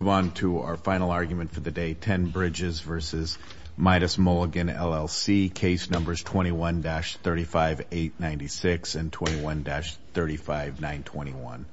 We move on to our final argument for the day, 10 Bridges v. Midas Mulligan, LLC, case numbers 21-35,896 and 21-35,921.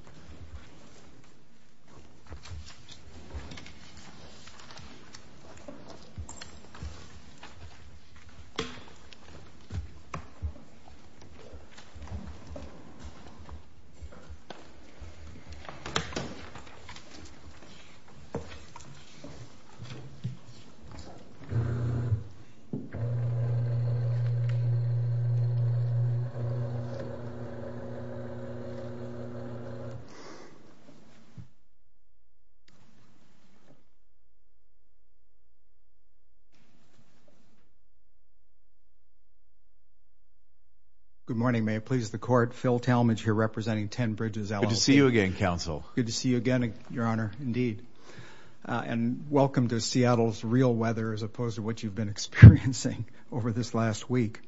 Good morning. May it please the Court, Phil Talmadge here representing 10 Bridges, LLC. Good to see you again, Counsel. Good to see you again, Your Honor. Indeed. And welcome to Seattle's real weather as opposed to what you've been experiencing over this last week.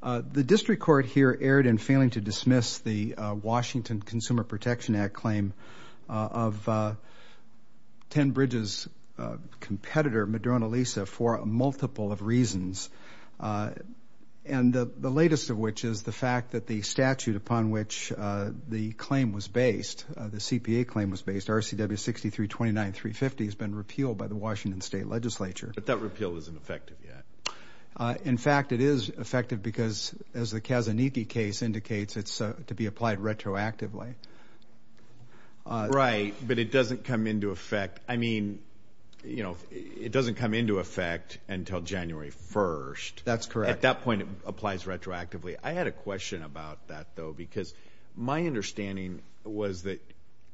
The District Court here erred in failing to dismiss the Washington Consumer Protection Act claim of 10 Bridges' competitor, Madrona Lisa, for a multiple of reasons. And the latest of which is the fact that the statute upon which the claim was based, the CPA claim was based, RCW 6329-350, has been repealed by the Washington State Legislature. But that repeal isn't effective yet. In fact, it is effective because, as the Kazaniki case indicates, it's to be applied retroactively. Right, but it doesn't come into effect. I mean, you know, it doesn't come into effect until January 1st. That's correct. At that point, it applies retroactively. I had a question about that, though, because my understanding was that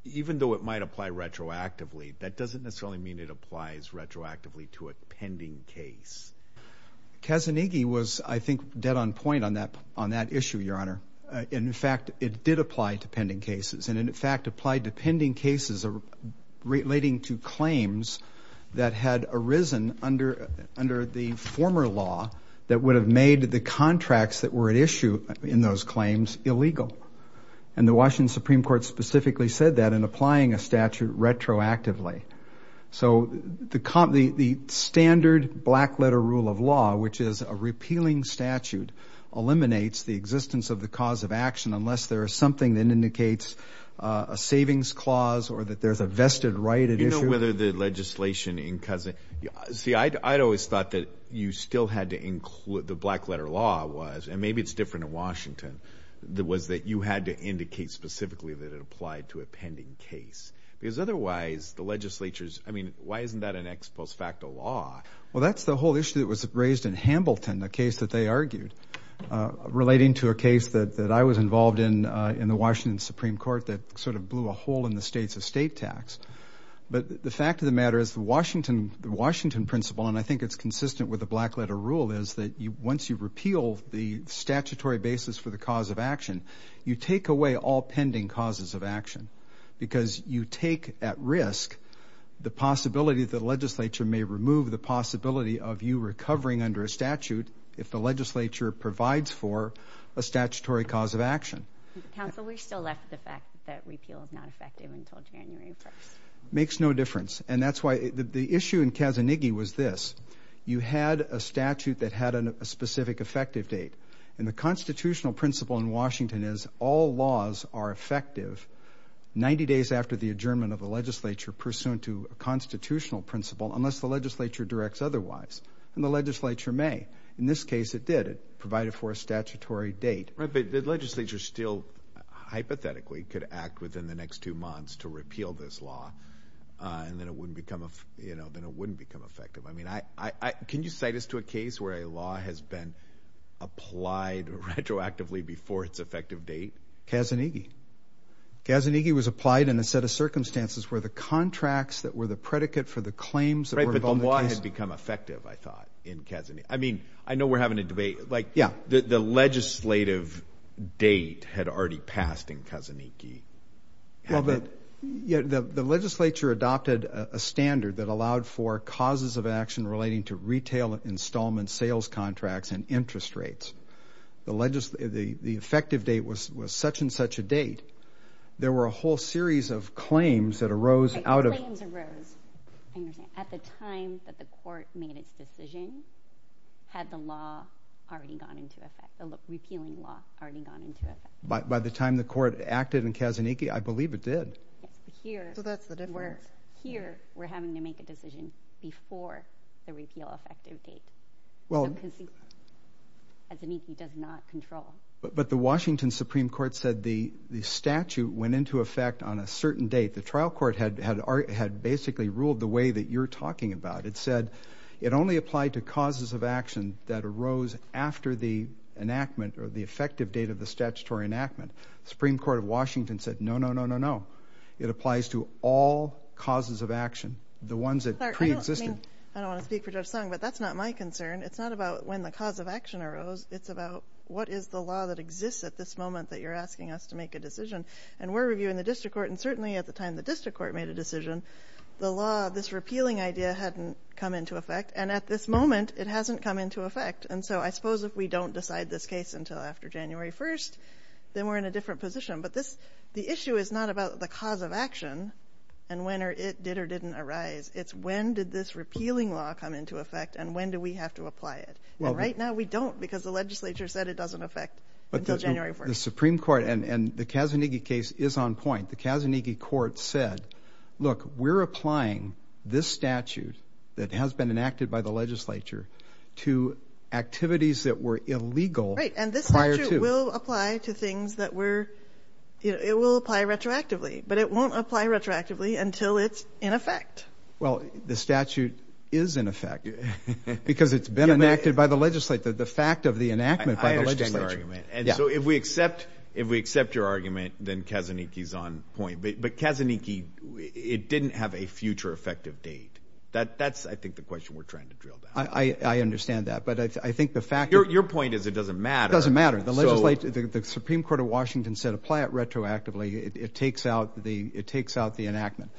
even though it might apply retroactively, that doesn't necessarily mean it applies retroactively to a pending case. Kazaniki was, I think, dead on point on that issue, Your Honor. In fact, it did apply to pending cases and, in fact, applied to pending cases relating to claims that had arisen under the former law that would have made the contracts that were at issue in those claims illegal. And the Washington Supreme Court specifically said that in applying a statute retroactively. So the standard black-letter rule of law, which is a repealing statute, eliminates the existence of the cause of action unless there is something that indicates a savings clause or that there's a vested right at issue. See, I'd always thought that you still had to include, the black-letter law was, and maybe it's different in Washington, was that you had to indicate specifically that it applied to a pending case. Because otherwise, the legislature's, I mean, why isn't that an ex post facto law? Well, that's the whole issue that was raised in Hambleton, the case that they argued, relating to a case that I was involved in in the Washington Supreme Court that sort of blew a hole in the state's estate tax. But the fact of the matter is the Washington principle, and I think it's consistent with the black-letter rule, is that once you repeal the statutory basis for the cause of action, you take away all pending causes of action. Because you take at risk the possibility that the legislature may remove the possibility of you recovering under a statute if the legislature provides for a statutory cause of action. Counsel, we still left the fact that repeal is not effective until January 1st. Makes no difference. And that's why the issue in Kazanighi was this. You had a statute that had a specific effective date. And the constitutional principle in Washington is all laws are effective 90 days after the adjournment of the legislature, pursuant to a constitutional principle, unless the legislature directs otherwise. And the legislature may. In this case, it did. It provided for a statutory date. Right, but the legislature still hypothetically could act within the next two months to repeal this law, and then it wouldn't become effective. I mean, can you cite us to a case where a law has been applied retroactively before its effective date? Kazanighi. Kazanighi was applied in a set of circumstances where the contracts that were the predicate for the claims that were involved in the case. Right, but the law had become effective, I thought, in Kazanighi. I mean, I know we're having a debate. Yeah. The legislative date had already passed in Kazanighi. Well, the legislature adopted a standard that allowed for causes of action relating to retail installments, sales contracts, and interest rates. The effective date was such and such a date. There were a whole series of claims that arose out of – the repealing law had already gone into effect. By the time the court acted in Kazanighi, I believe it did. So that's the difference. Here, we're having to make a decision before the repeal effective date. Kazanighi does not control. But the Washington Supreme Court said the statute went into effect on a certain date. The trial court had basically ruled the way that you're talking about. It said it only applied to causes of action that arose after the enactment or the effective date of the statutory enactment. The Supreme Court of Washington said no, no, no, no, no. It applies to all causes of action, the ones that preexisted. I don't want to speak for Judge Sung, but that's not my concern. It's not about when the cause of action arose. It's about what is the law that exists at this moment that you're asking us to make a decision. And we're reviewing the district court, and certainly at the time the district court made a decision, the law, this repealing idea, hadn't come into effect. And at this moment, it hasn't come into effect. And so I suppose if we don't decide this case until after January 1st, then we're in a different position. But the issue is not about the cause of action and when it did or didn't arise. It's when did this repealing law come into effect and when do we have to apply it. And right now we don't because the legislature said it doesn't affect until January 1st. The Supreme Court and the Kazanighi case is on point. The Kazanighi court said, look, we're applying this statute that has been enacted by the legislature to activities that were illegal prior to. Right, and this statute will apply to things that were, you know, it will apply retroactively. But it won't apply retroactively until it's in effect. Well, the statute is in effect because it's been enacted by the legislature. The fact of the enactment by the legislature. I understand your argument. And so if we accept if we accept your argument, then Kazanighi is on point. But Kazanighi, it didn't have a future effective date. That's I think the question we're trying to drill down. I understand that. But I think the fact. Your point is it doesn't matter. It doesn't matter. The Supreme Court of Washington said apply it retroactively. It takes out the it takes out the enactment.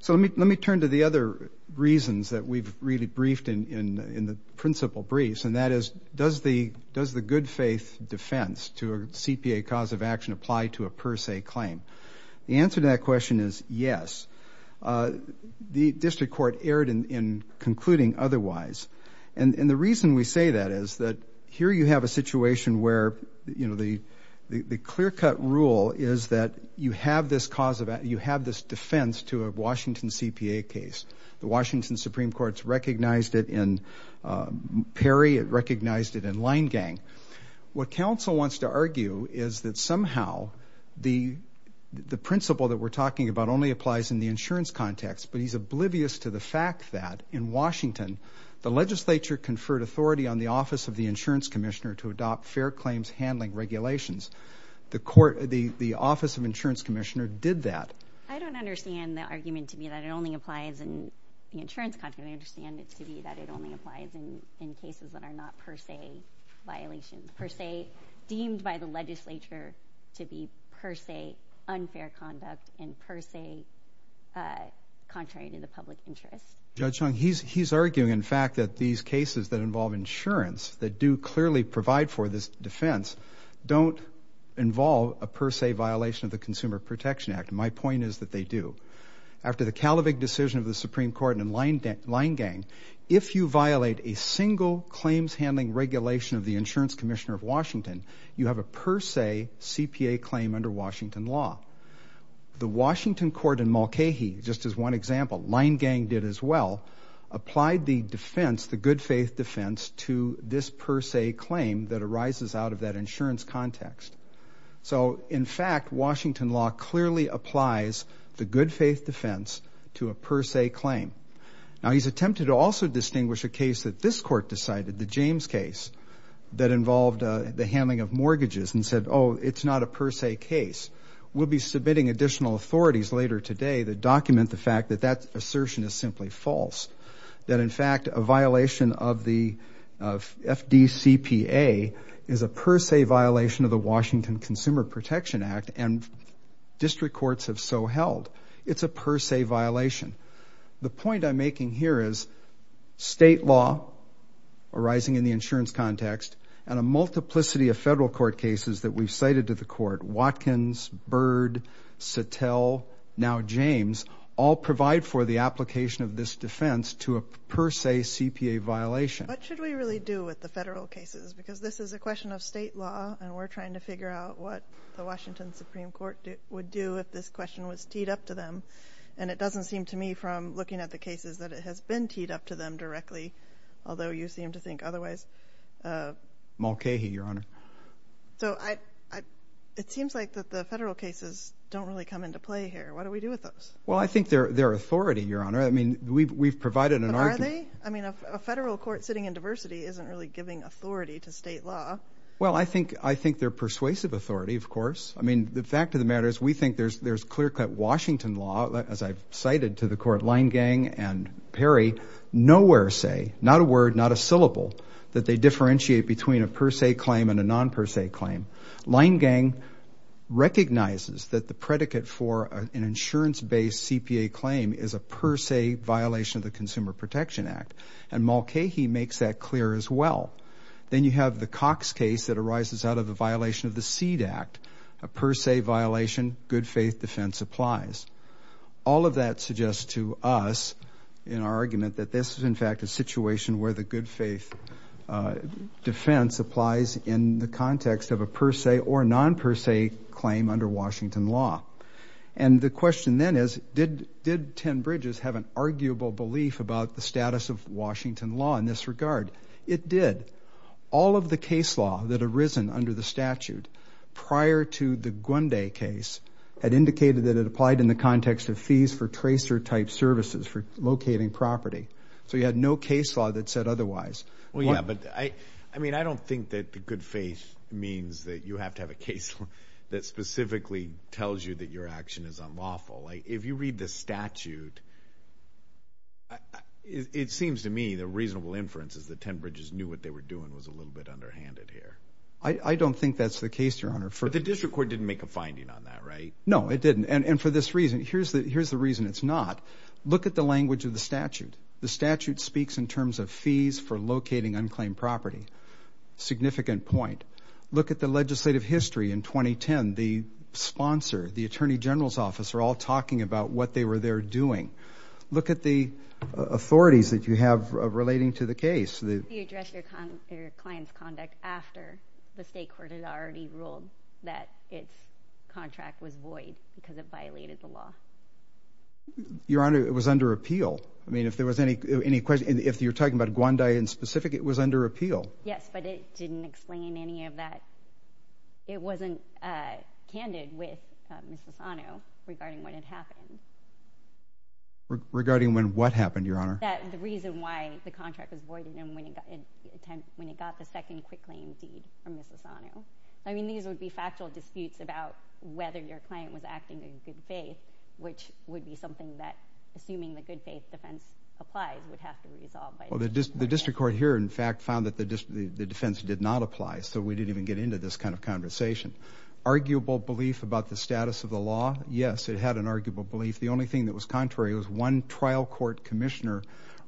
So let me let me turn to the other reasons that we've really briefed in the principle briefs. And that is, does the good faith defense to a CPA cause of action apply to a per se claim? The answer to that question is yes. The district court erred in concluding otherwise. And the reason we say that is that here you have a situation where, you know, the clear cut rule is that you have this cause of you have this defense to a Washington CPA case. The Washington Supreme Court's recognized it in Perry. It recognized it in line gang. What council wants to argue is that somehow the the principle that we're talking about only applies in the insurance context. But he's oblivious to the fact that in Washington, the legislature conferred authority on the office of the insurance commissioner to adopt fair claims handling regulations. The court, the office of insurance commissioner did that. I don't understand the argument to be that it only applies in the insurance company. I understand it to be that it only applies in in cases that are not per se violation per se, deemed by the legislature to be per se unfair conduct and per se contrary to the public interest. He's he's arguing, in fact, that these cases that involve insurance that do clearly provide for this defense don't involve a per se violation of the Consumer Protection Act. My point is that they do. After the Calvary decision of the Supreme Court in line gang, if you violate a single claims handling regulation of the insurance commissioner of Washington, you have a per se CPA claim under Washington law. The Washington court in Mulcahy, just as one example, line gang did as well, applied the defense, the good faith defense to this per se claim that arises out of that insurance context. So, in fact, Washington law clearly applies the good faith defense to a per se claim. Now, he's attempted to also distinguish a case that this court decided, the James case, that involved the handling of mortgages and said, oh, it's not a per se case. We'll be submitting additional authorities later today that document the fact that that assertion is simply false, that, in fact, a violation of the FDCPA is a per se violation of the Washington Consumer Protection Act, and district courts have so held. It's a per se violation. The point I'm making here is state law arising in the insurance context and a multiplicity of federal court cases that we've cited to the court, Watkins, Bird, Satel, now James, all provide for the application of this defense to a per se CPA violation. What should we really do with the federal cases? Because this is a question of state law, and we're trying to figure out what the Washington Supreme Court would do if this question was teed up to them, and it doesn't seem to me from looking at the cases that it has been teed up to them directly, although you seem to think otherwise. Mulcahy, Your Honor. So it seems like the federal cases don't really come into play here. What do we do with those? Well, I think they're authority, Your Honor. I mean, we've provided an argument. But are they? I mean, a federal court sitting in diversity isn't really giving authority to state law. Well, I think they're persuasive authority, of course. I mean, the fact of the matter is we think there's clear-cut Washington law, as I've cited to the court, Leingang and Perry, nowhere say, not a word, not a syllable, that they differentiate between a per se claim and a non-per se claim. Leingang recognizes that the predicate for an insurance-based CPA claim is a per se violation of the Consumer Protection Act, and Mulcahy makes that clear as well. Then you have the Cox case that arises out of a violation of the Seed Act, a per se violation, good faith defense applies. All of that suggests to us in our argument that this is, in fact, a situation where the good faith defense applies in the context of a per se or non-per se claim under Washington law. And the question then is, did 10 Bridges have an arguable belief about the status of Washington law in this regard? It did. All of the case law that arisen under the statute prior to the Gwende case had indicated that it applied in the context of fees for tracer-type services for locating property. So you had no case law that said otherwise. Well, yeah, but I don't think that good faith means that you have to have a case law that specifically tells you that your action is unlawful. If you read the statute, it seems to me the reasonable inference is that 10 Bridges knew what they were doing was a little bit underhanded here. I don't think that's the case, Your Honor. But the district court didn't make a finding on that, right? No, it didn't. And for this reason, here's the reason it's not. Look at the language of the statute. The statute speaks in terms of fees for locating unclaimed property. Significant point. Look at the legislative history in 2010. The sponsor, the attorney general's office are all talking about what they were there doing. Look at the authorities that you have relating to the case. You addressed your client's conduct after the state court had already ruled that its contract was void because it violated the law. Your Honor, it was under appeal. I mean, if there was any question, if you're talking about Gwandai in specific, it was under appeal. Yes, but it didn't explain any of that. It wasn't candid with Ms. Asano regarding what had happened. Regarding when what happened, Your Honor? That the reason why the contract was voided and when it got the second quick claim deed from Ms. Asano. I mean, these would be factual disputes about whether your client was acting in good faith, which would be something that, assuming the good faith defense applies, would have to be resolved. Well, the district court here, in fact, found that the defense did not apply, so we didn't even get into this kind of conversation. Arguable belief about the status of the law? Yes, it had an arguable belief. The only thing that was contrary was one trial court commissioner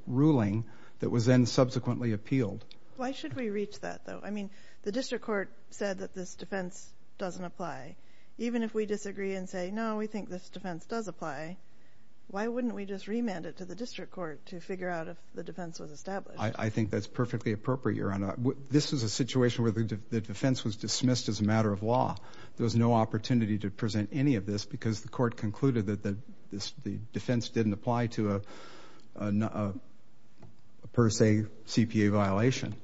ruling that was then subsequently appealed. Why should we reach that, though? I mean, the district court said that this defense doesn't apply. Even if we disagree and say, no, we think this defense does apply, why wouldn't we just remand it to the district court to figure out if the defense was established? I think that's perfectly appropriate, Your Honor. This was a situation where the defense was dismissed as a matter of law. There was no opportunity to present any of this because the court concluded that the defense didn't apply to a per se CPA violation.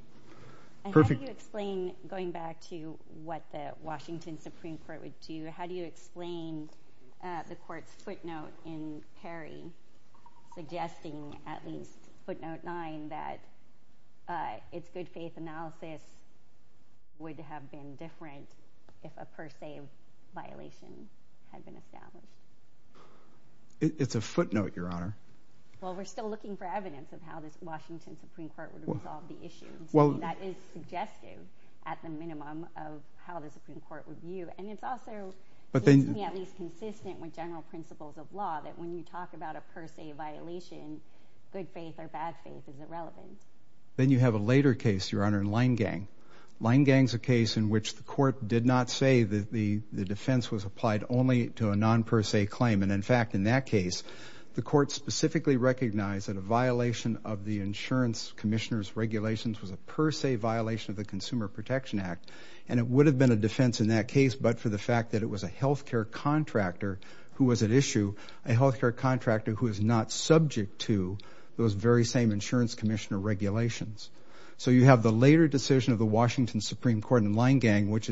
How do you explain, going back to what the Washington Supreme Court would do, how do you explain the court's footnote in Perry suggesting, at least footnote nine, that its good faith analysis would have been different if a per se violation had been established? It's a footnote, Your Honor. Well, we're still looking for evidence of how the Washington Supreme Court would have resolved the issue. That is suggestive, at the minimum, of how the Supreme Court would view it. And it's also, at least consistent with general principles of law, that when you talk about a per se violation, good faith or bad faith is irrelevant. Then you have a later case, Your Honor, in Leingang. Leingang's a case in which the court did not say that the defense was applied only to a non per se claim. And, in fact, in that case, the court specifically recognized that a violation of the insurance commissioner's regulations was a per se violation of the Consumer Protection Act. And it would have been a defense in that case but for the fact that it was a health care contractor who was at issue, a health care contractor who is not subject to those very same insurance commissioner regulations. So you have the later decision of the Washington Supreme Court in Leingang, which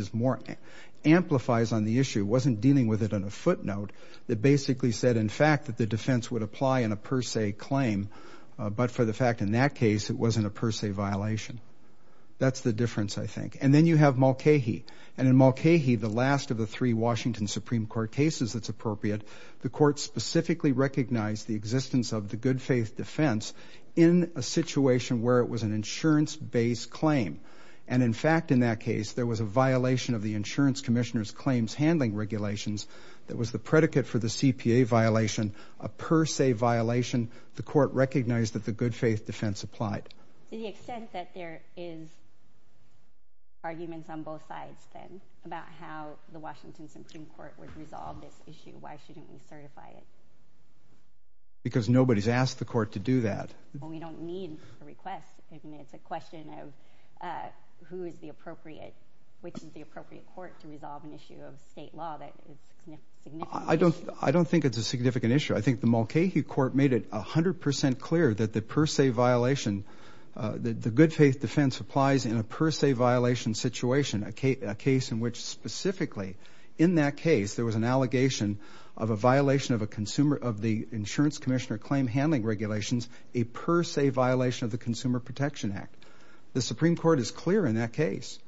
amplifies on the issue, wasn't dealing with it on a footnote, that basically said, in fact, that the defense would apply in a per se claim, but for the fact in that case it wasn't a per se violation. That's the difference, I think. And then you have Mulcahy. And in Mulcahy, the last of the three Washington Supreme Court cases that's appropriate, the court specifically recognized the existence of the good faith defense in a situation where it was an insurance-based claim. And, in fact, in that case, there was a violation of the insurance commissioner's claims handling regulations that was the predicate for the CPA violation, a per se violation. The court recognized that the good faith defense applied. To the extent that there is arguments on both sides then about how the Washington Supreme Court would resolve this issue, why shouldn't we certify it? Because nobody's asked the court to do that. Well, we don't need the request. It's a question of who is the appropriate, which is the appropriate court to resolve an issue of state law that is significant. I don't think it's a significant issue. I think the Mulcahy court made it 100% clear that the per se violation, the good faith defense applies in a per se violation situation, a case in which specifically in that case there was an allegation of a violation of a consumer, of the insurance commissioner claim handling regulations, a per se violation of the Consumer Protection Act. The Supreme Court is clear in that case.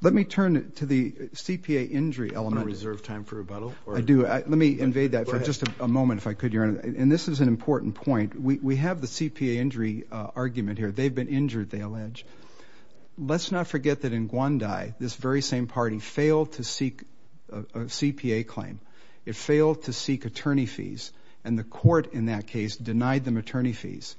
Let me turn to the CPA injury element. I don't reserve time for rebuttal. I do. Let me invade that for just a moment, if I could, Your Honor. And this is an important point. We have the CPA injury argument here. They've been injured, they allege. Let's not forget that in Gwandi, this very same party failed to seek a CPA claim. It failed to seek attorney fees, and the court in that case denied them attorney fees.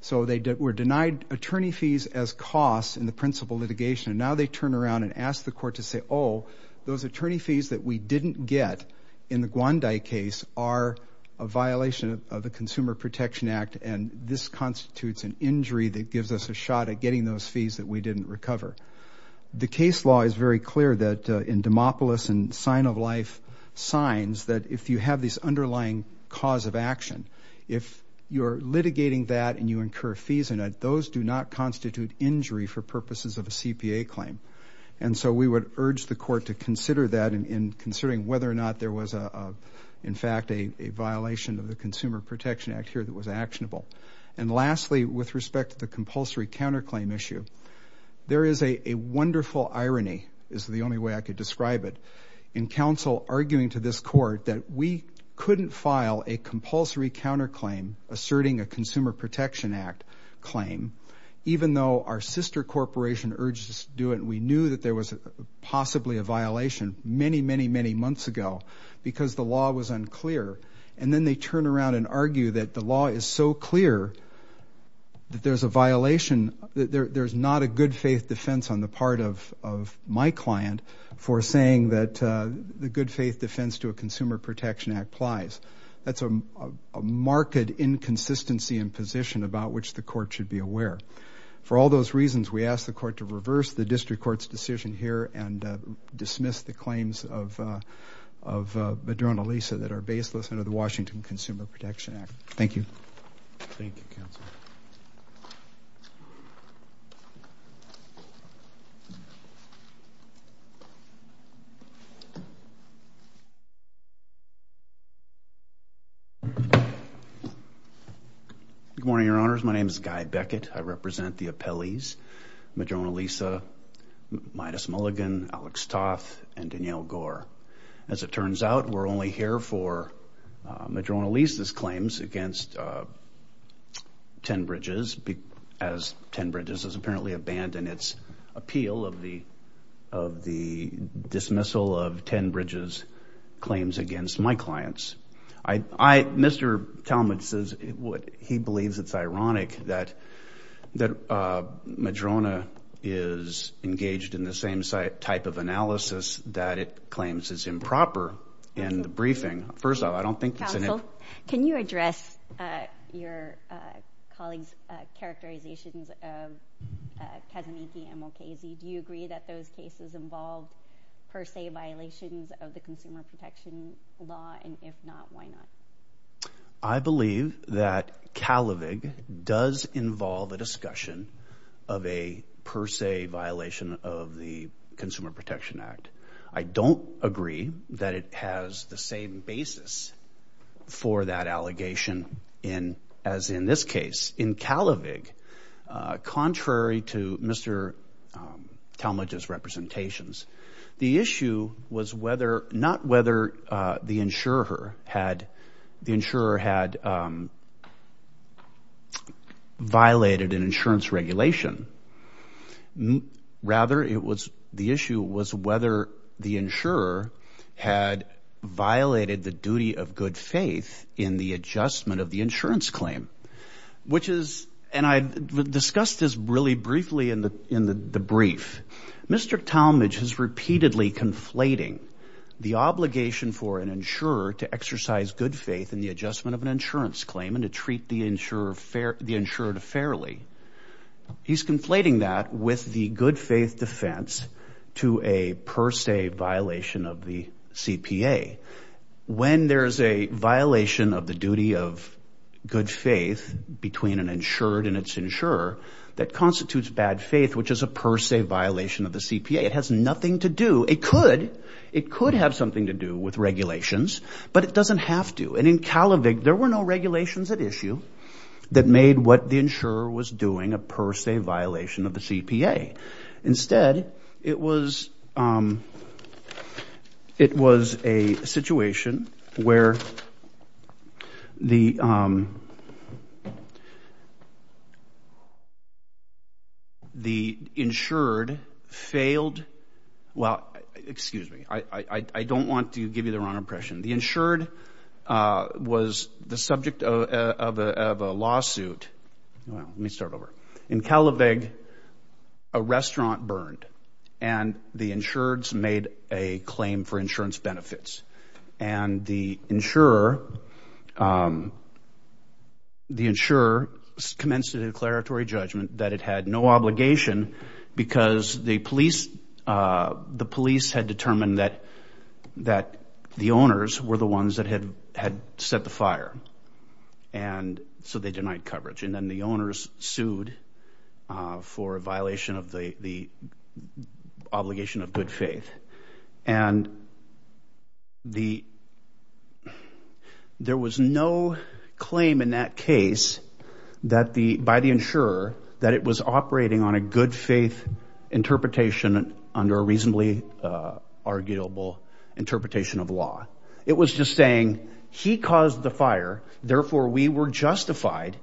So they were denied attorney fees as costs in the principal litigation, and now they turn around and ask the court to say, oh, those attorney fees that we didn't get in the Gwandi case are a violation of the Consumer Protection Act, and this constitutes an injury that gives us a shot at getting those fees that we didn't recover. The case law is very clear that in Demopolis and sign of life signs that if you have this underlying cause of action, if you're litigating that and you incur fees in it, those do not constitute injury for purposes of a CPA claim. And so we would urge the court to consider that in considering whether or not there was, in fact, a violation of the Consumer Protection Act here that was actionable. And lastly, with respect to the compulsory counterclaim issue, there is a wonderful irony is the only way I could describe it in counsel arguing to this court that we couldn't file a compulsory counterclaim asserting a Consumer Protection Act claim even though our sister corporation urged us to do it. We knew that there was possibly a violation many, many, many months ago because the law was unclear, and then they turn around and argue that the law is so clear that there's a violation, that there's not a good faith defense on the part of my client for saying that the good faith defense to a Consumer Protection Act applies. That's a marked inconsistency in position about which the court should be aware. For all those reasons, we ask the court to reverse the district court's decision here and dismiss the claims of Madrona Lisa that are baseless under the Washington Consumer Protection Act. Thank you. Thank you, counsel. Good morning, Your Honors. My name is Guy Beckett. I represent the appellees, Madrona Lisa, Midas Mulligan, Alex Toth, and Danielle Gore. As it turns out, we're only here for Madrona Lisa's claims against 10 Bridges as 10 Bridges has apparently abandoned its appeal of the dismissal of 10 Bridges' claims against my clients. Mr. Talmadge says he believes it's ironic that Madrona is engaged in the same type of analysis that it claims is improper in the briefing. First of all, I don't think it's an improper— Counsel, can you address your colleague's characterizations of Kazuniki and Mulcazy? Do you agree that those cases involve per se violations of the Consumer Protection Law? And if not, why not? I believe that Kalavig does involve a discussion of a per se violation of the Consumer Protection Act. I don't agree that it has the same basis for that allegation as in this case. In Kalavig, contrary to Mr. Talmadge's representations, the issue was not whether the insurer had violated an insurance regulation. Rather, the issue was whether the insurer had violated the duty of good faith in the adjustment of the insurance claim, which is—and I discussed this really briefly in the brief. Mr. Talmadge is repeatedly conflating the obligation for an insurer to exercise good faith in the adjustment of an insurance claim and to treat the insurer fairly. He's conflating that with the good faith defense to a per se violation of the CPA. When there's a violation of the duty of good faith between an insured and its insurer that constitutes bad faith, which is a per se violation of the CPA, it has nothing to do—it could. It could have something to do with regulations, but it doesn't have to. And in Kalavig, there were no regulations at issue that made what the insurer was doing a per se violation of the CPA. Instead, it was a situation where the insured failed—well, excuse me. I don't want to give you the wrong impression. The insured was the subject of a lawsuit—well, let me start over. In Kalavig, a restaurant burned, and the insureds made a claim for insurance benefits. And the insurer commenced a declaratory judgment that it had no obligation because the police had determined that the owners were the ones that had set the fire, and so they denied coverage. And then the owners sued for a violation of the obligation of good faith. And there was no claim in that case by the insurer that it was operating on a good faith interpretation under a reasonably arguable interpretation of law. It was just saying, he caused the fire, therefore we were justified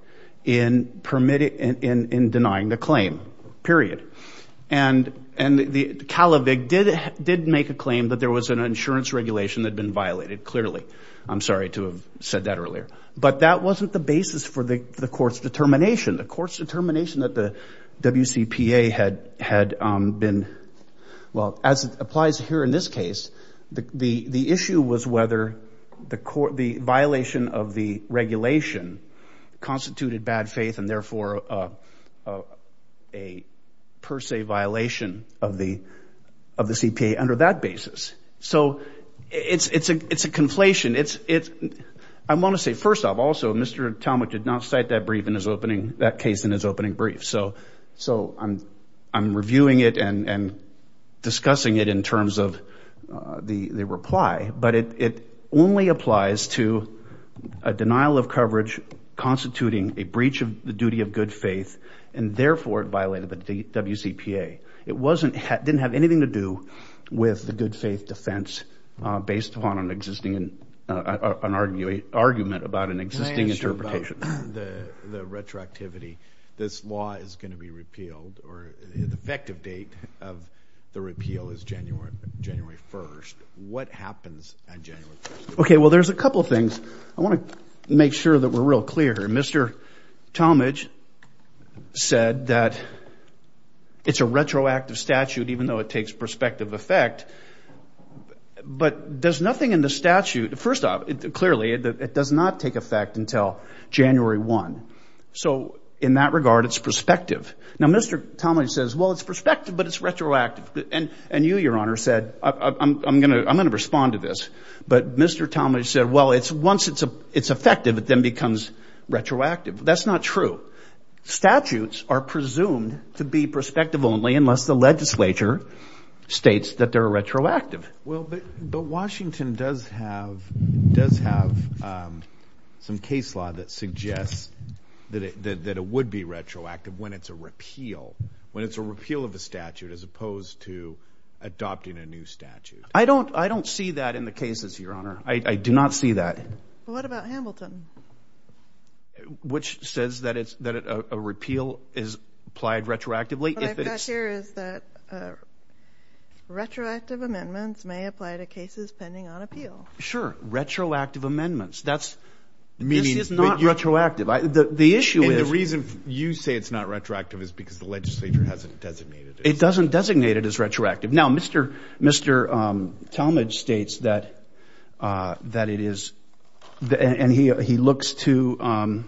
in denying the claim, period. And Kalavig did make a claim that there was an insurance regulation that had been violated, clearly. I'm sorry to have said that earlier. But that wasn't the basis for the court's determination. The court's determination that the WCPA had been—well, as it applies here in this case, the issue was whether the violation of the regulation constituted bad faith and therefore a per se violation of the CPA under that basis. So it's a conflation. I want to say, first off, also, Mr. Talmadge did not cite that case in his opening brief. So I'm reviewing it and discussing it in terms of the reply. But it only applies to a denial of coverage constituting a breach of the duty of good faith and therefore it violated the WCPA. It didn't have anything to do with the good faith defense based upon an argument about an existing interpretation. The retroactivity, this law is going to be repealed, or the effective date of the repeal is January 1st. What happens on January 1st? Okay, well, there's a couple of things. I want to make sure that we're real clear. Mr. Talmadge said that it's a retroactive statute even though it takes prospective effect. But does nothing in the statute, first off, clearly it does not take effect until January 1. So in that regard, it's prospective. Now, Mr. Talmadge says, well, it's prospective, but it's retroactive. And you, Your Honor, said, I'm going to respond to this. But Mr. Talmadge said, well, once it's effective, it then becomes retroactive. That's not true. Statutes are presumed to be prospective only unless the legislature states that they're retroactive. Well, but Washington does have some case law that suggests that it would be retroactive when it's a repeal, when it's a repeal of a statute as opposed to adopting a new statute. I don't see that in the cases, Your Honor. I do not see that. What about Hamilton? Which says that a repeal is applied retroactively. What I've got here is that retroactive amendments may apply to cases pending on appeal. Sure. Retroactive amendments. This is not retroactive. And the reason you say it's not retroactive is because the legislature hasn't designated it. It doesn't designate it as retroactive. Now, Mr. Talmadge states that it is, and he looks to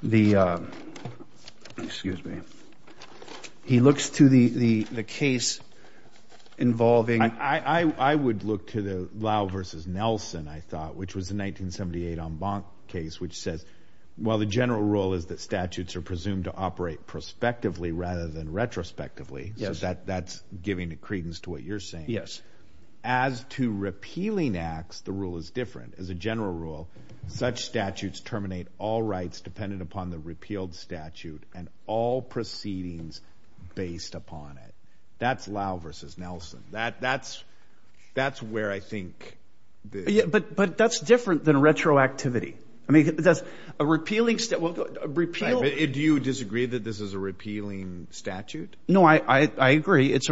the, excuse me, he looks to the case involving. I would look to the Lau versus Nelson, I thought, which was the 1978 en banc case, which says, well, the general rule is that statutes are presumed to operate prospectively rather than retrospectively. So that's giving credence to what you're saying. Yes. As to repealing acts, the rule is different. As a general rule, such statutes terminate all rights dependent upon the repealed statute and all proceedings based upon it. That's Lau versus Nelson. That's where I think. But that's different than retroactivity. I mean, that's a repealing. Do you disagree that this is a repealing statute? No, I agree. It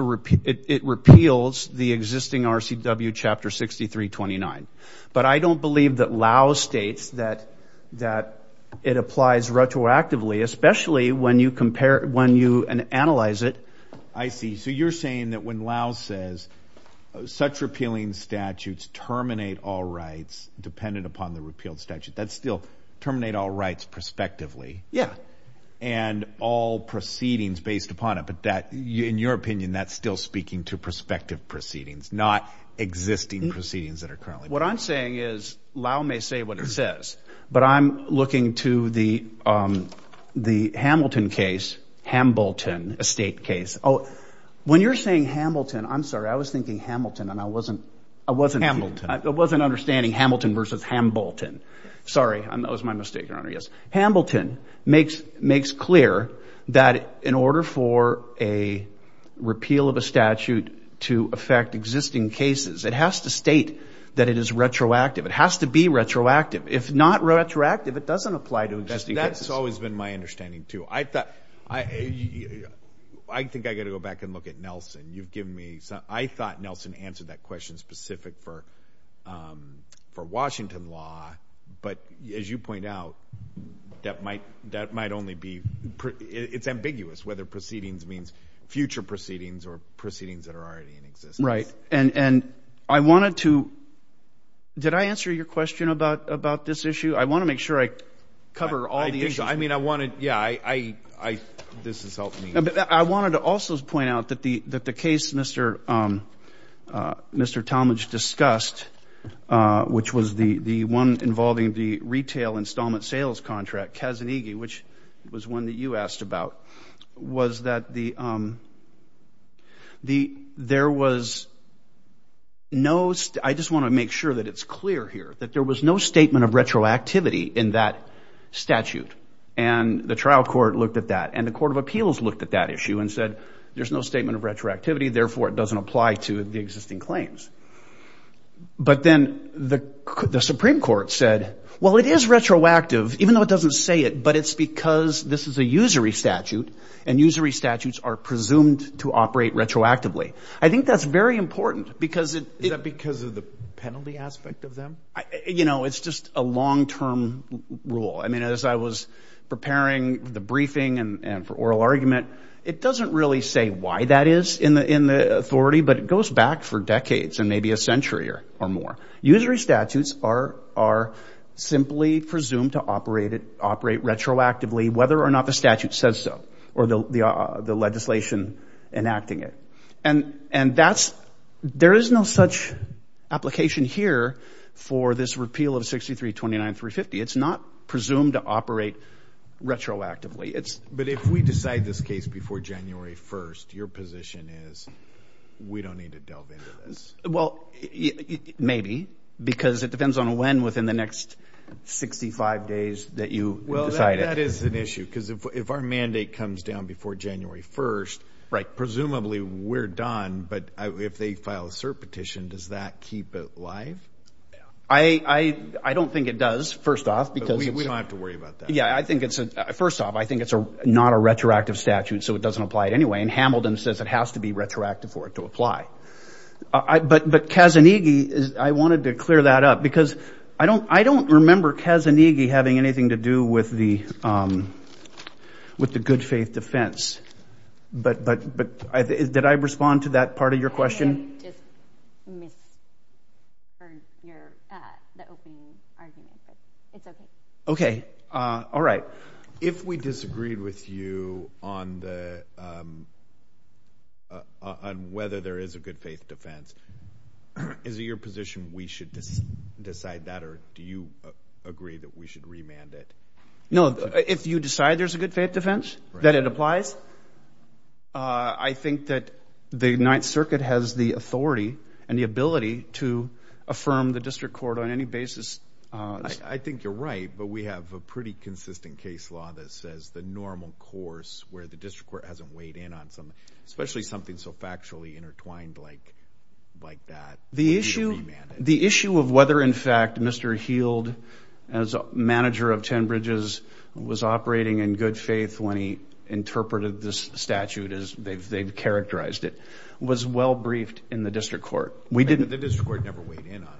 repeals the existing RCW Chapter 6329. But I don't believe that Lau states that it applies retroactively, especially when you compare, when you analyze it. I see. So you're saying that when Lau says such repealing statutes terminate all rights dependent upon the repealed statute, that's still terminate all rights prospectively. Yeah. And all proceedings based upon it. But that, in your opinion, that's still speaking to prospective proceedings, not existing proceedings that are currently. What I'm saying is Lau may say what he says, but I'm looking to the Hamilton case, Hamilton estate case. Oh, when you're saying Hamilton, I'm sorry, I was thinking Hamilton and I wasn't. Hamilton. I wasn't understanding Hamilton versus Hambolton. Sorry. That was my mistake, Your Honor. Yes. Hamilton makes clear that in order for a repeal of a statute to affect existing cases, it has to state that it is retroactive. It has to be retroactive. If not retroactive, it doesn't apply to existing cases. That's always been my understanding, too. I think I've got to go back and look at Nelson. I thought Nelson answered that question specific for Washington law. But as you point out, that might only be – it's ambiguous whether proceedings means future proceedings or proceedings that are already in existence. Right. And I wanted to – did I answer your question about this issue? I want to make sure I cover all the issues. I think so. I mean, I wanted – yeah, this has helped me. I wanted to also point out that the case Mr. Talmadge discussed, which was the one involving the retail installment sales contract, Kazanigi, which was one that you asked about, was that the – there was no – I just want to make sure that it's clear here, that there was no statement of retroactivity in that statute. And the trial court looked at that. And the court of appeals looked at that issue and said there's no statement of retroactivity. Therefore, it doesn't apply to the existing claims. But then the Supreme Court said, well, it is retroactive, even though it doesn't say it, but it's because this is a usury statute and usury statutes are presumed to operate retroactively. I think that's very important because it – Is that because of the penalty aspect of them? You know, it's just a long-term rule. I mean, as I was preparing the briefing and for oral argument, it doesn't really say why that is in the authority, but it goes back for decades and maybe a century or more. Usury statutes are simply presumed to operate retroactively, whether or not the statute says so or the legislation enacting it. And that's – there is no such application here for this repeal of 63-29-350. It's not presumed to operate retroactively. But if we decide this case before January 1st, your position is we don't need to delve into this? Well, maybe because it depends on when within the next 65 days that you decide it. Well, that is an issue because if our mandate comes down before January 1st, presumably we're done. But if they file a cert petition, does that keep it live? I don't think it does, first off, because – We don't have to worry about that. Yeah, I think it's – first off, I think it's not a retroactive statute, so it doesn't apply it anyway. And Hamilton says it has to be retroactive for it to apply. But Kazanigi, I wanted to clear that up because I don't remember Kazanigi having anything to do with the good faith defense. But did I respond to that part of your question? I just misheard your – the opening argument, but it's okay. Okay. All right. If we disagreed with you on the – on whether there is a good faith defense, is it your position we should decide that? Or do you agree that we should remand it? No, if you decide there's a good faith defense, that it applies? I think that the Ninth Circuit has the authority and the ability to affirm the district court on any basis. I think you're right, but we have a pretty consistent case law that says the normal course, where the district court hasn't weighed in on something, especially something so factually intertwined like that, we should remand it. The issue of whether, in fact, Mr. Heald, as manager of Ten Bridges, was operating in good faith when he interpreted this statute as they've characterized it, was well briefed in the district court. The district court never weighed in on it.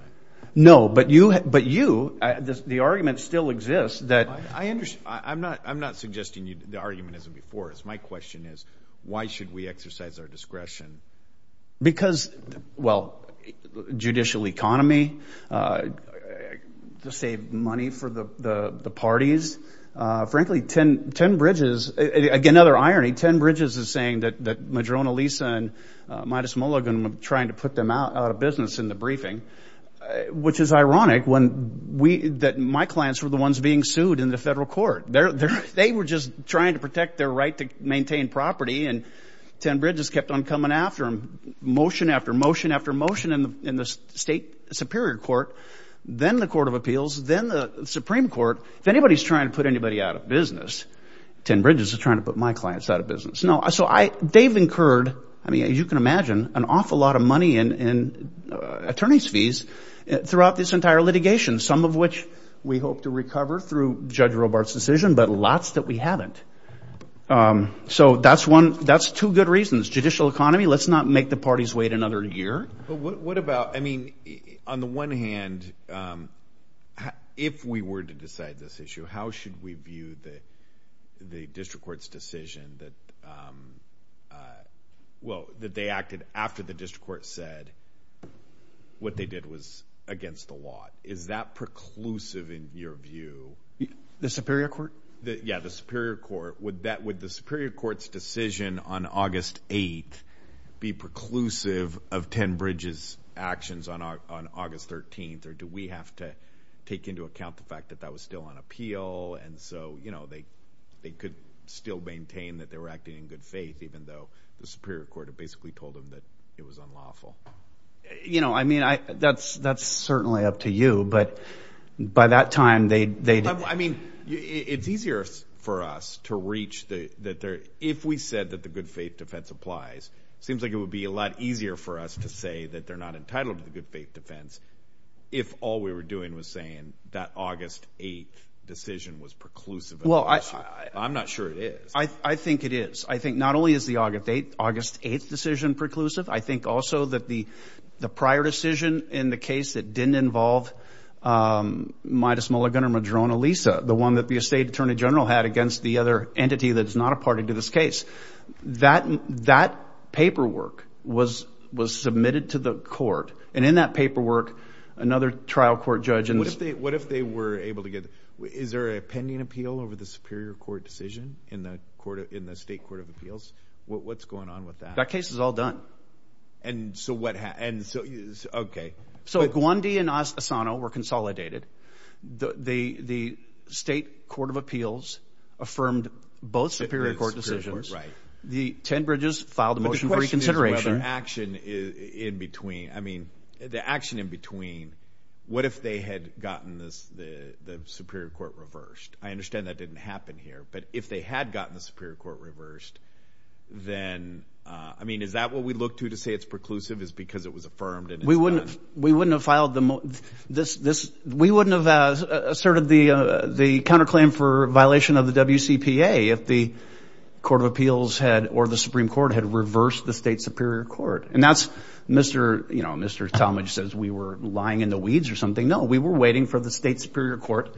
No, but you – the argument still exists that – I'm not suggesting the argument isn't before us. My question is why should we exercise our discretion? Because, well, judicial economy, to save money for the parties. Frankly, Ten Bridges – again, another irony. Ten Bridges is saying that Madrona Lisa and Midas Mulligan were trying to put them out of business in the briefing, which is ironic when we – that my clients were the ones being sued in the federal court. They were just trying to protect their right to maintain property, and Ten Bridges kept on coming after them, motion after motion after motion in the state superior court, then the court of appeals, then the Supreme Court. If anybody's trying to put anybody out of business, Ten Bridges is trying to put my clients out of business. Now, so I – they've incurred, I mean, as you can imagine, an awful lot of money in attorney's fees throughout this entire litigation, some of which we hope to recover through Judge Robart's decision, but lots that we haven't. So that's one – that's two good reasons. Judicial economy, let's not make the parties wait another year. But what about – I mean, on the one hand, if we were to decide this issue, how should we view the district court's decision that – well, that they acted after the district court said what they did was against the law? Is that preclusive in your view? The superior court? Yeah, the superior court. Would the superior court's decision on August 8th be preclusive of Ten Bridges' actions on August 13th, or do we have to take into account the fact that that was still on appeal, and so they could still maintain that they were acting in good faith, even though the superior court had basically told them that it was unlawful? You know, I mean, that's certainly up to you, but by that time they – I mean, it's easier for us to reach the – if we said that the good faith defense applies, it seems like it would be a lot easier for us to say that they're not entitled to the good faith defense if all we were doing was saying that August 8th decision was preclusive of the issue. I'm not sure it is. I think it is. I think not only is the August 8th decision preclusive, I think also that the prior decision in the case that didn't involve Midas Mulligan or Madrona Lisa, the one that the estate attorney general had against the other entity that is not a party to this case, that paperwork was submitted to the court, and in that paperwork another trial court judge – What if they were able to get – is there a pending appeal over the superior court decision in the state court of appeals? What's going on with that? That case is all done. And so what – okay. So Gwandi and Asano were consolidated. The state court of appeals affirmed both superior court decisions. The Ten Bridges filed a motion for reconsideration. But the question is whether action in between – I mean, the action in between – what if they had gotten the superior court reversed? I understand that didn't happen here, but if they had gotten the superior court reversed, then – I mean, is that what we look to to say it's preclusive is because it was affirmed? We wouldn't have filed the – we wouldn't have asserted the counterclaim for violation of the WCPA if the court of appeals had – or the Supreme Court had reversed the state superior court. And that's – Mr. Talmadge says we were lying in the weeds or something. No, we were waiting for the state superior court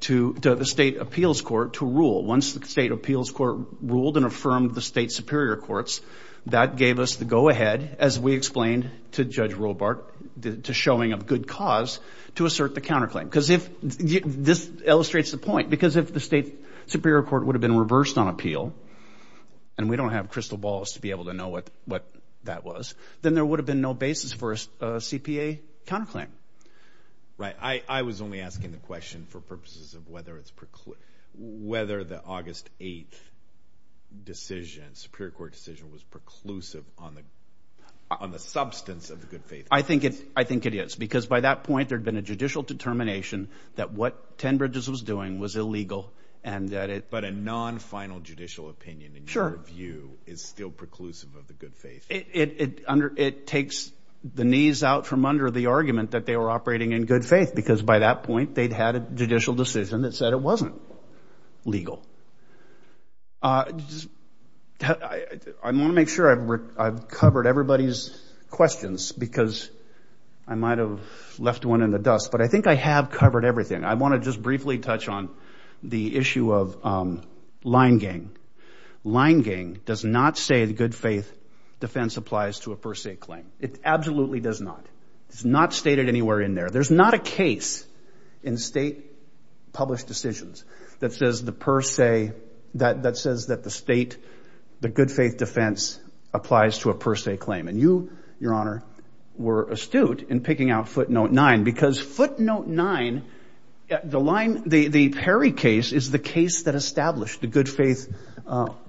to – the state appeals court to rule. Once the state appeals court ruled and affirmed the state superior courts, that gave us the go-ahead, as we explained to Judge Robart, to showing of good cause to assert the counterclaim. Because if – this illustrates the point. Because if the state superior court would have been reversed on appeal, and we don't have crystal balls to be able to know what that was, then there would have been no basis for a CPA counterclaim. Right. I was only asking the question for purposes of whether it's – whether the August 8 decision, superior court decision, was preclusive on the substance of the good faith. I think it is. Because by that point, there had been a judicial determination that what Tenbridges was doing was illegal and that it – But a non-final judicial opinion, in your view, is still preclusive of the good faith. It takes the knees out from under the argument that they were operating in good faith. Because by that point, they'd had a judicial decision that said it wasn't legal. I want to make sure I've covered everybody's questions because I might have left one in the dust. But I think I have covered everything. I want to just briefly touch on the issue of line gang. Line gang does not say the good faith defense applies to a per se claim. It absolutely does not. It's not stated anywhere in there. There's not a case in state-published decisions that says the per se – that says that the state – the good faith defense applies to a per se claim. And you, Your Honor, were astute in picking out footnote nine. Because footnote nine – the line – the Perry case is the case that established the good faith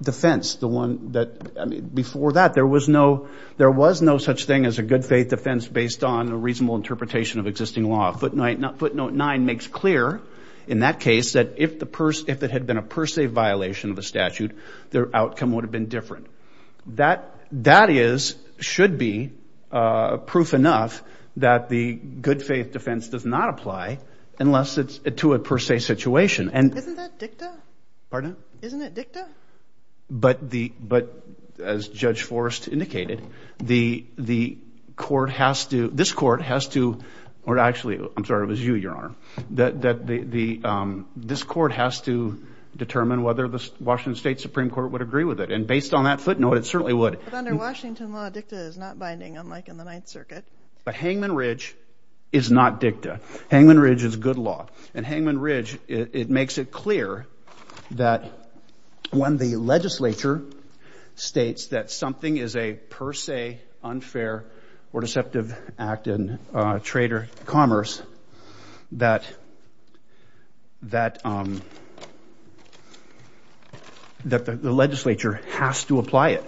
defense. The one that – I mean, before that, there was no – there was no such thing as a good faith defense based on a reasonable interpretation of existing law. Footnote nine makes clear in that case that if the – if it had been a per se violation of a statute, their outcome would have been different. That is – should be proof enough that the good faith defense does not apply unless it's to a per se situation. And – Isn't that dicta? Pardon? Isn't it dicta? But the – but as Judge Forrest indicated, the court has to – this court has to – or actually, I'm sorry, it was you, Your Honor. That the – this court has to determine whether the Washington State Supreme Court would agree with it. And based on that footnote, it certainly would. But under Washington law, dicta is not binding, unlike in the Ninth Circuit. But Hangman Ridge is not dicta. Hangman Ridge is good law. And Hangman Ridge, it makes it clear that when the legislature states that something is a per se, unfair or deceptive act in trade or commerce, that – that the legislature has to apply it.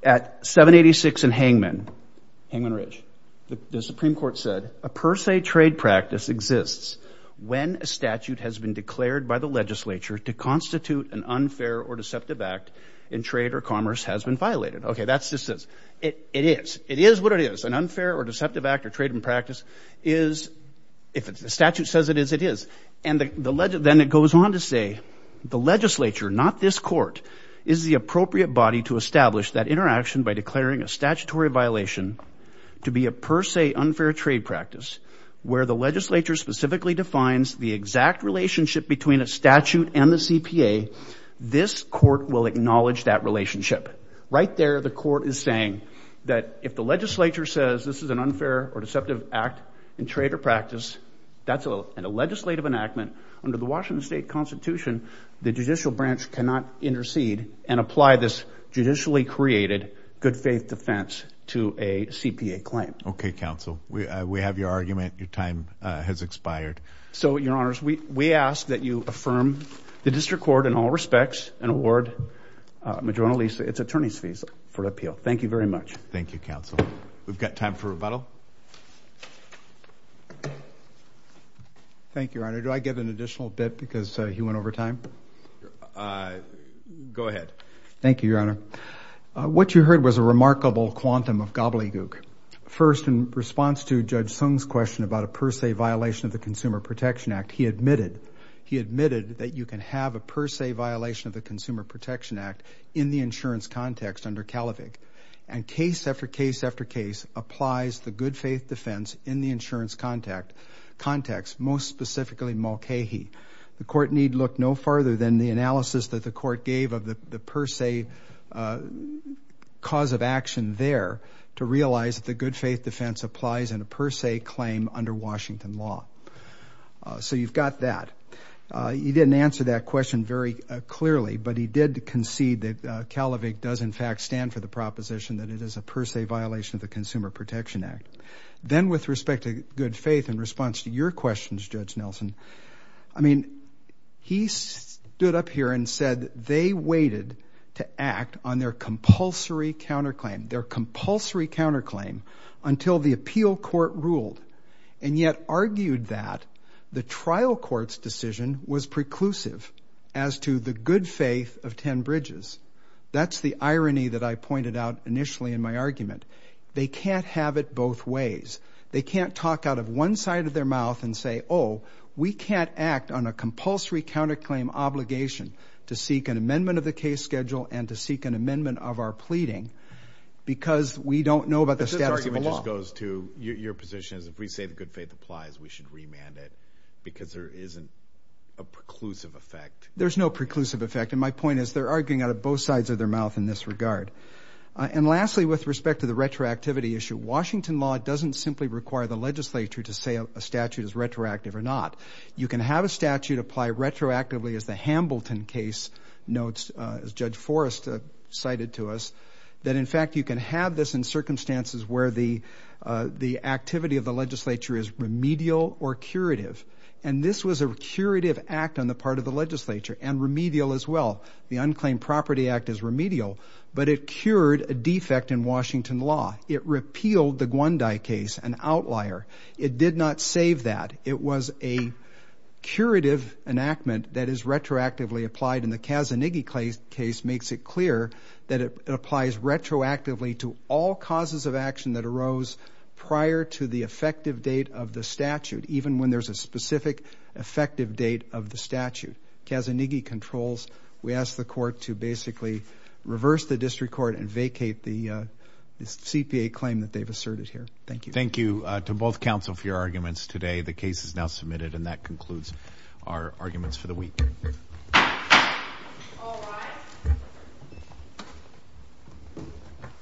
At 786 in Hangman, Hangman Ridge, the Supreme Court said, a per se trade practice exists when a statute has been declared by the legislature to constitute an unfair or deceptive act in trade or commerce has been violated. Okay, that's just this. It is. It is what it is. An unfair or deceptive act or trade in practice is – if the statute says it is, it is. And the – then it goes on to say, the legislature, not this court, is the appropriate body to establish that interaction by declaring a statutory violation to be a per se unfair trade practice where the legislature specifically defines the exact relationship between a statute and the CPA. This court will acknowledge that relationship. Right there, the court is saying that if the legislature says this is an unfair or deceptive act in trade or practice, that's a legislative enactment. Under the Washington State Constitution, the judicial branch cannot intercede and apply this judicially created good faith defense to a CPA claim. Okay, counsel. We have your argument. Your time has expired. So, your honors, we ask that you affirm the district court in all respects and award Majorana Lisa its attorney's visa for appeal. Thank you very much. Thank you, counsel. We've got time for rebuttal. Thank you, your honor. Do I get an additional bit because he went over time? Go ahead. Thank you, your honor. What you heard was a remarkable quantum of gobbledygook. First, in response to Judge Sung's question about a per se violation of the Consumer Protection Act, he admitted that you can have a per se violation of the Consumer Protection Act in the insurance context under CALIVIC and case after case after case applies the good faith defense in the insurance context, most specifically Mulcahy. The court need look no farther than the analysis that the court gave of the per se cause of action there to realize that the good faith defense applies in a per se claim under Washington law. So you've got that. He didn't answer that question very clearly, but he did concede that CALIVIC does in fact stand for the proposition that it is a per se violation of the Consumer Protection Act. Then with respect to good faith in response to your questions, Judge Nelson, I mean he stood up here and said they waited to act on their compulsory counterclaim, their compulsory counterclaim until the appeal court ruled, and yet argued that the trial court's decision was preclusive as to the good faith of 10 Bridges. That's the irony that I pointed out initially in my argument. They can't have it both ways. They can't talk out of one side of their mouth and say, oh, we can't act on a compulsory counterclaim obligation to seek an amendment of the case schedule and to seek an amendment of our pleading because we don't know about the status of the law. This argument just goes to your position is if we say the good faith applies, we should remand it because there isn't a preclusive effect. There's no preclusive effect, and my point is they're arguing out of both sides of their mouth in this regard. And lastly, with respect to the retroactivity issue, Washington law doesn't simply require the legislature to say a statute is retroactive or not. You can have a statute apply retroactively as the Hambleton case notes, as Judge Forrest cited to us, that in fact you can have this in circumstances where the activity of the legislature is remedial or curative. And this was a curative act on the part of the legislature and remedial as well. The Unclaimed Property Act is remedial, but it cured a defect in Washington law. It repealed the Gwondi case, an outlier. It did not save that. It was a curative enactment that is retroactively applied, and the Kazanighi case makes it clear that it applies retroactively to all causes of action that arose prior to the effective date of the statute, even when there's a specific effective date of the statute. Kazanighi controls. We ask the court to basically reverse the district court and vacate the CPA claim that they've asserted here. Thank you. Thank you to both counsel for your arguments today. The case is now submitted, and that concludes our arguments for the week. All rise.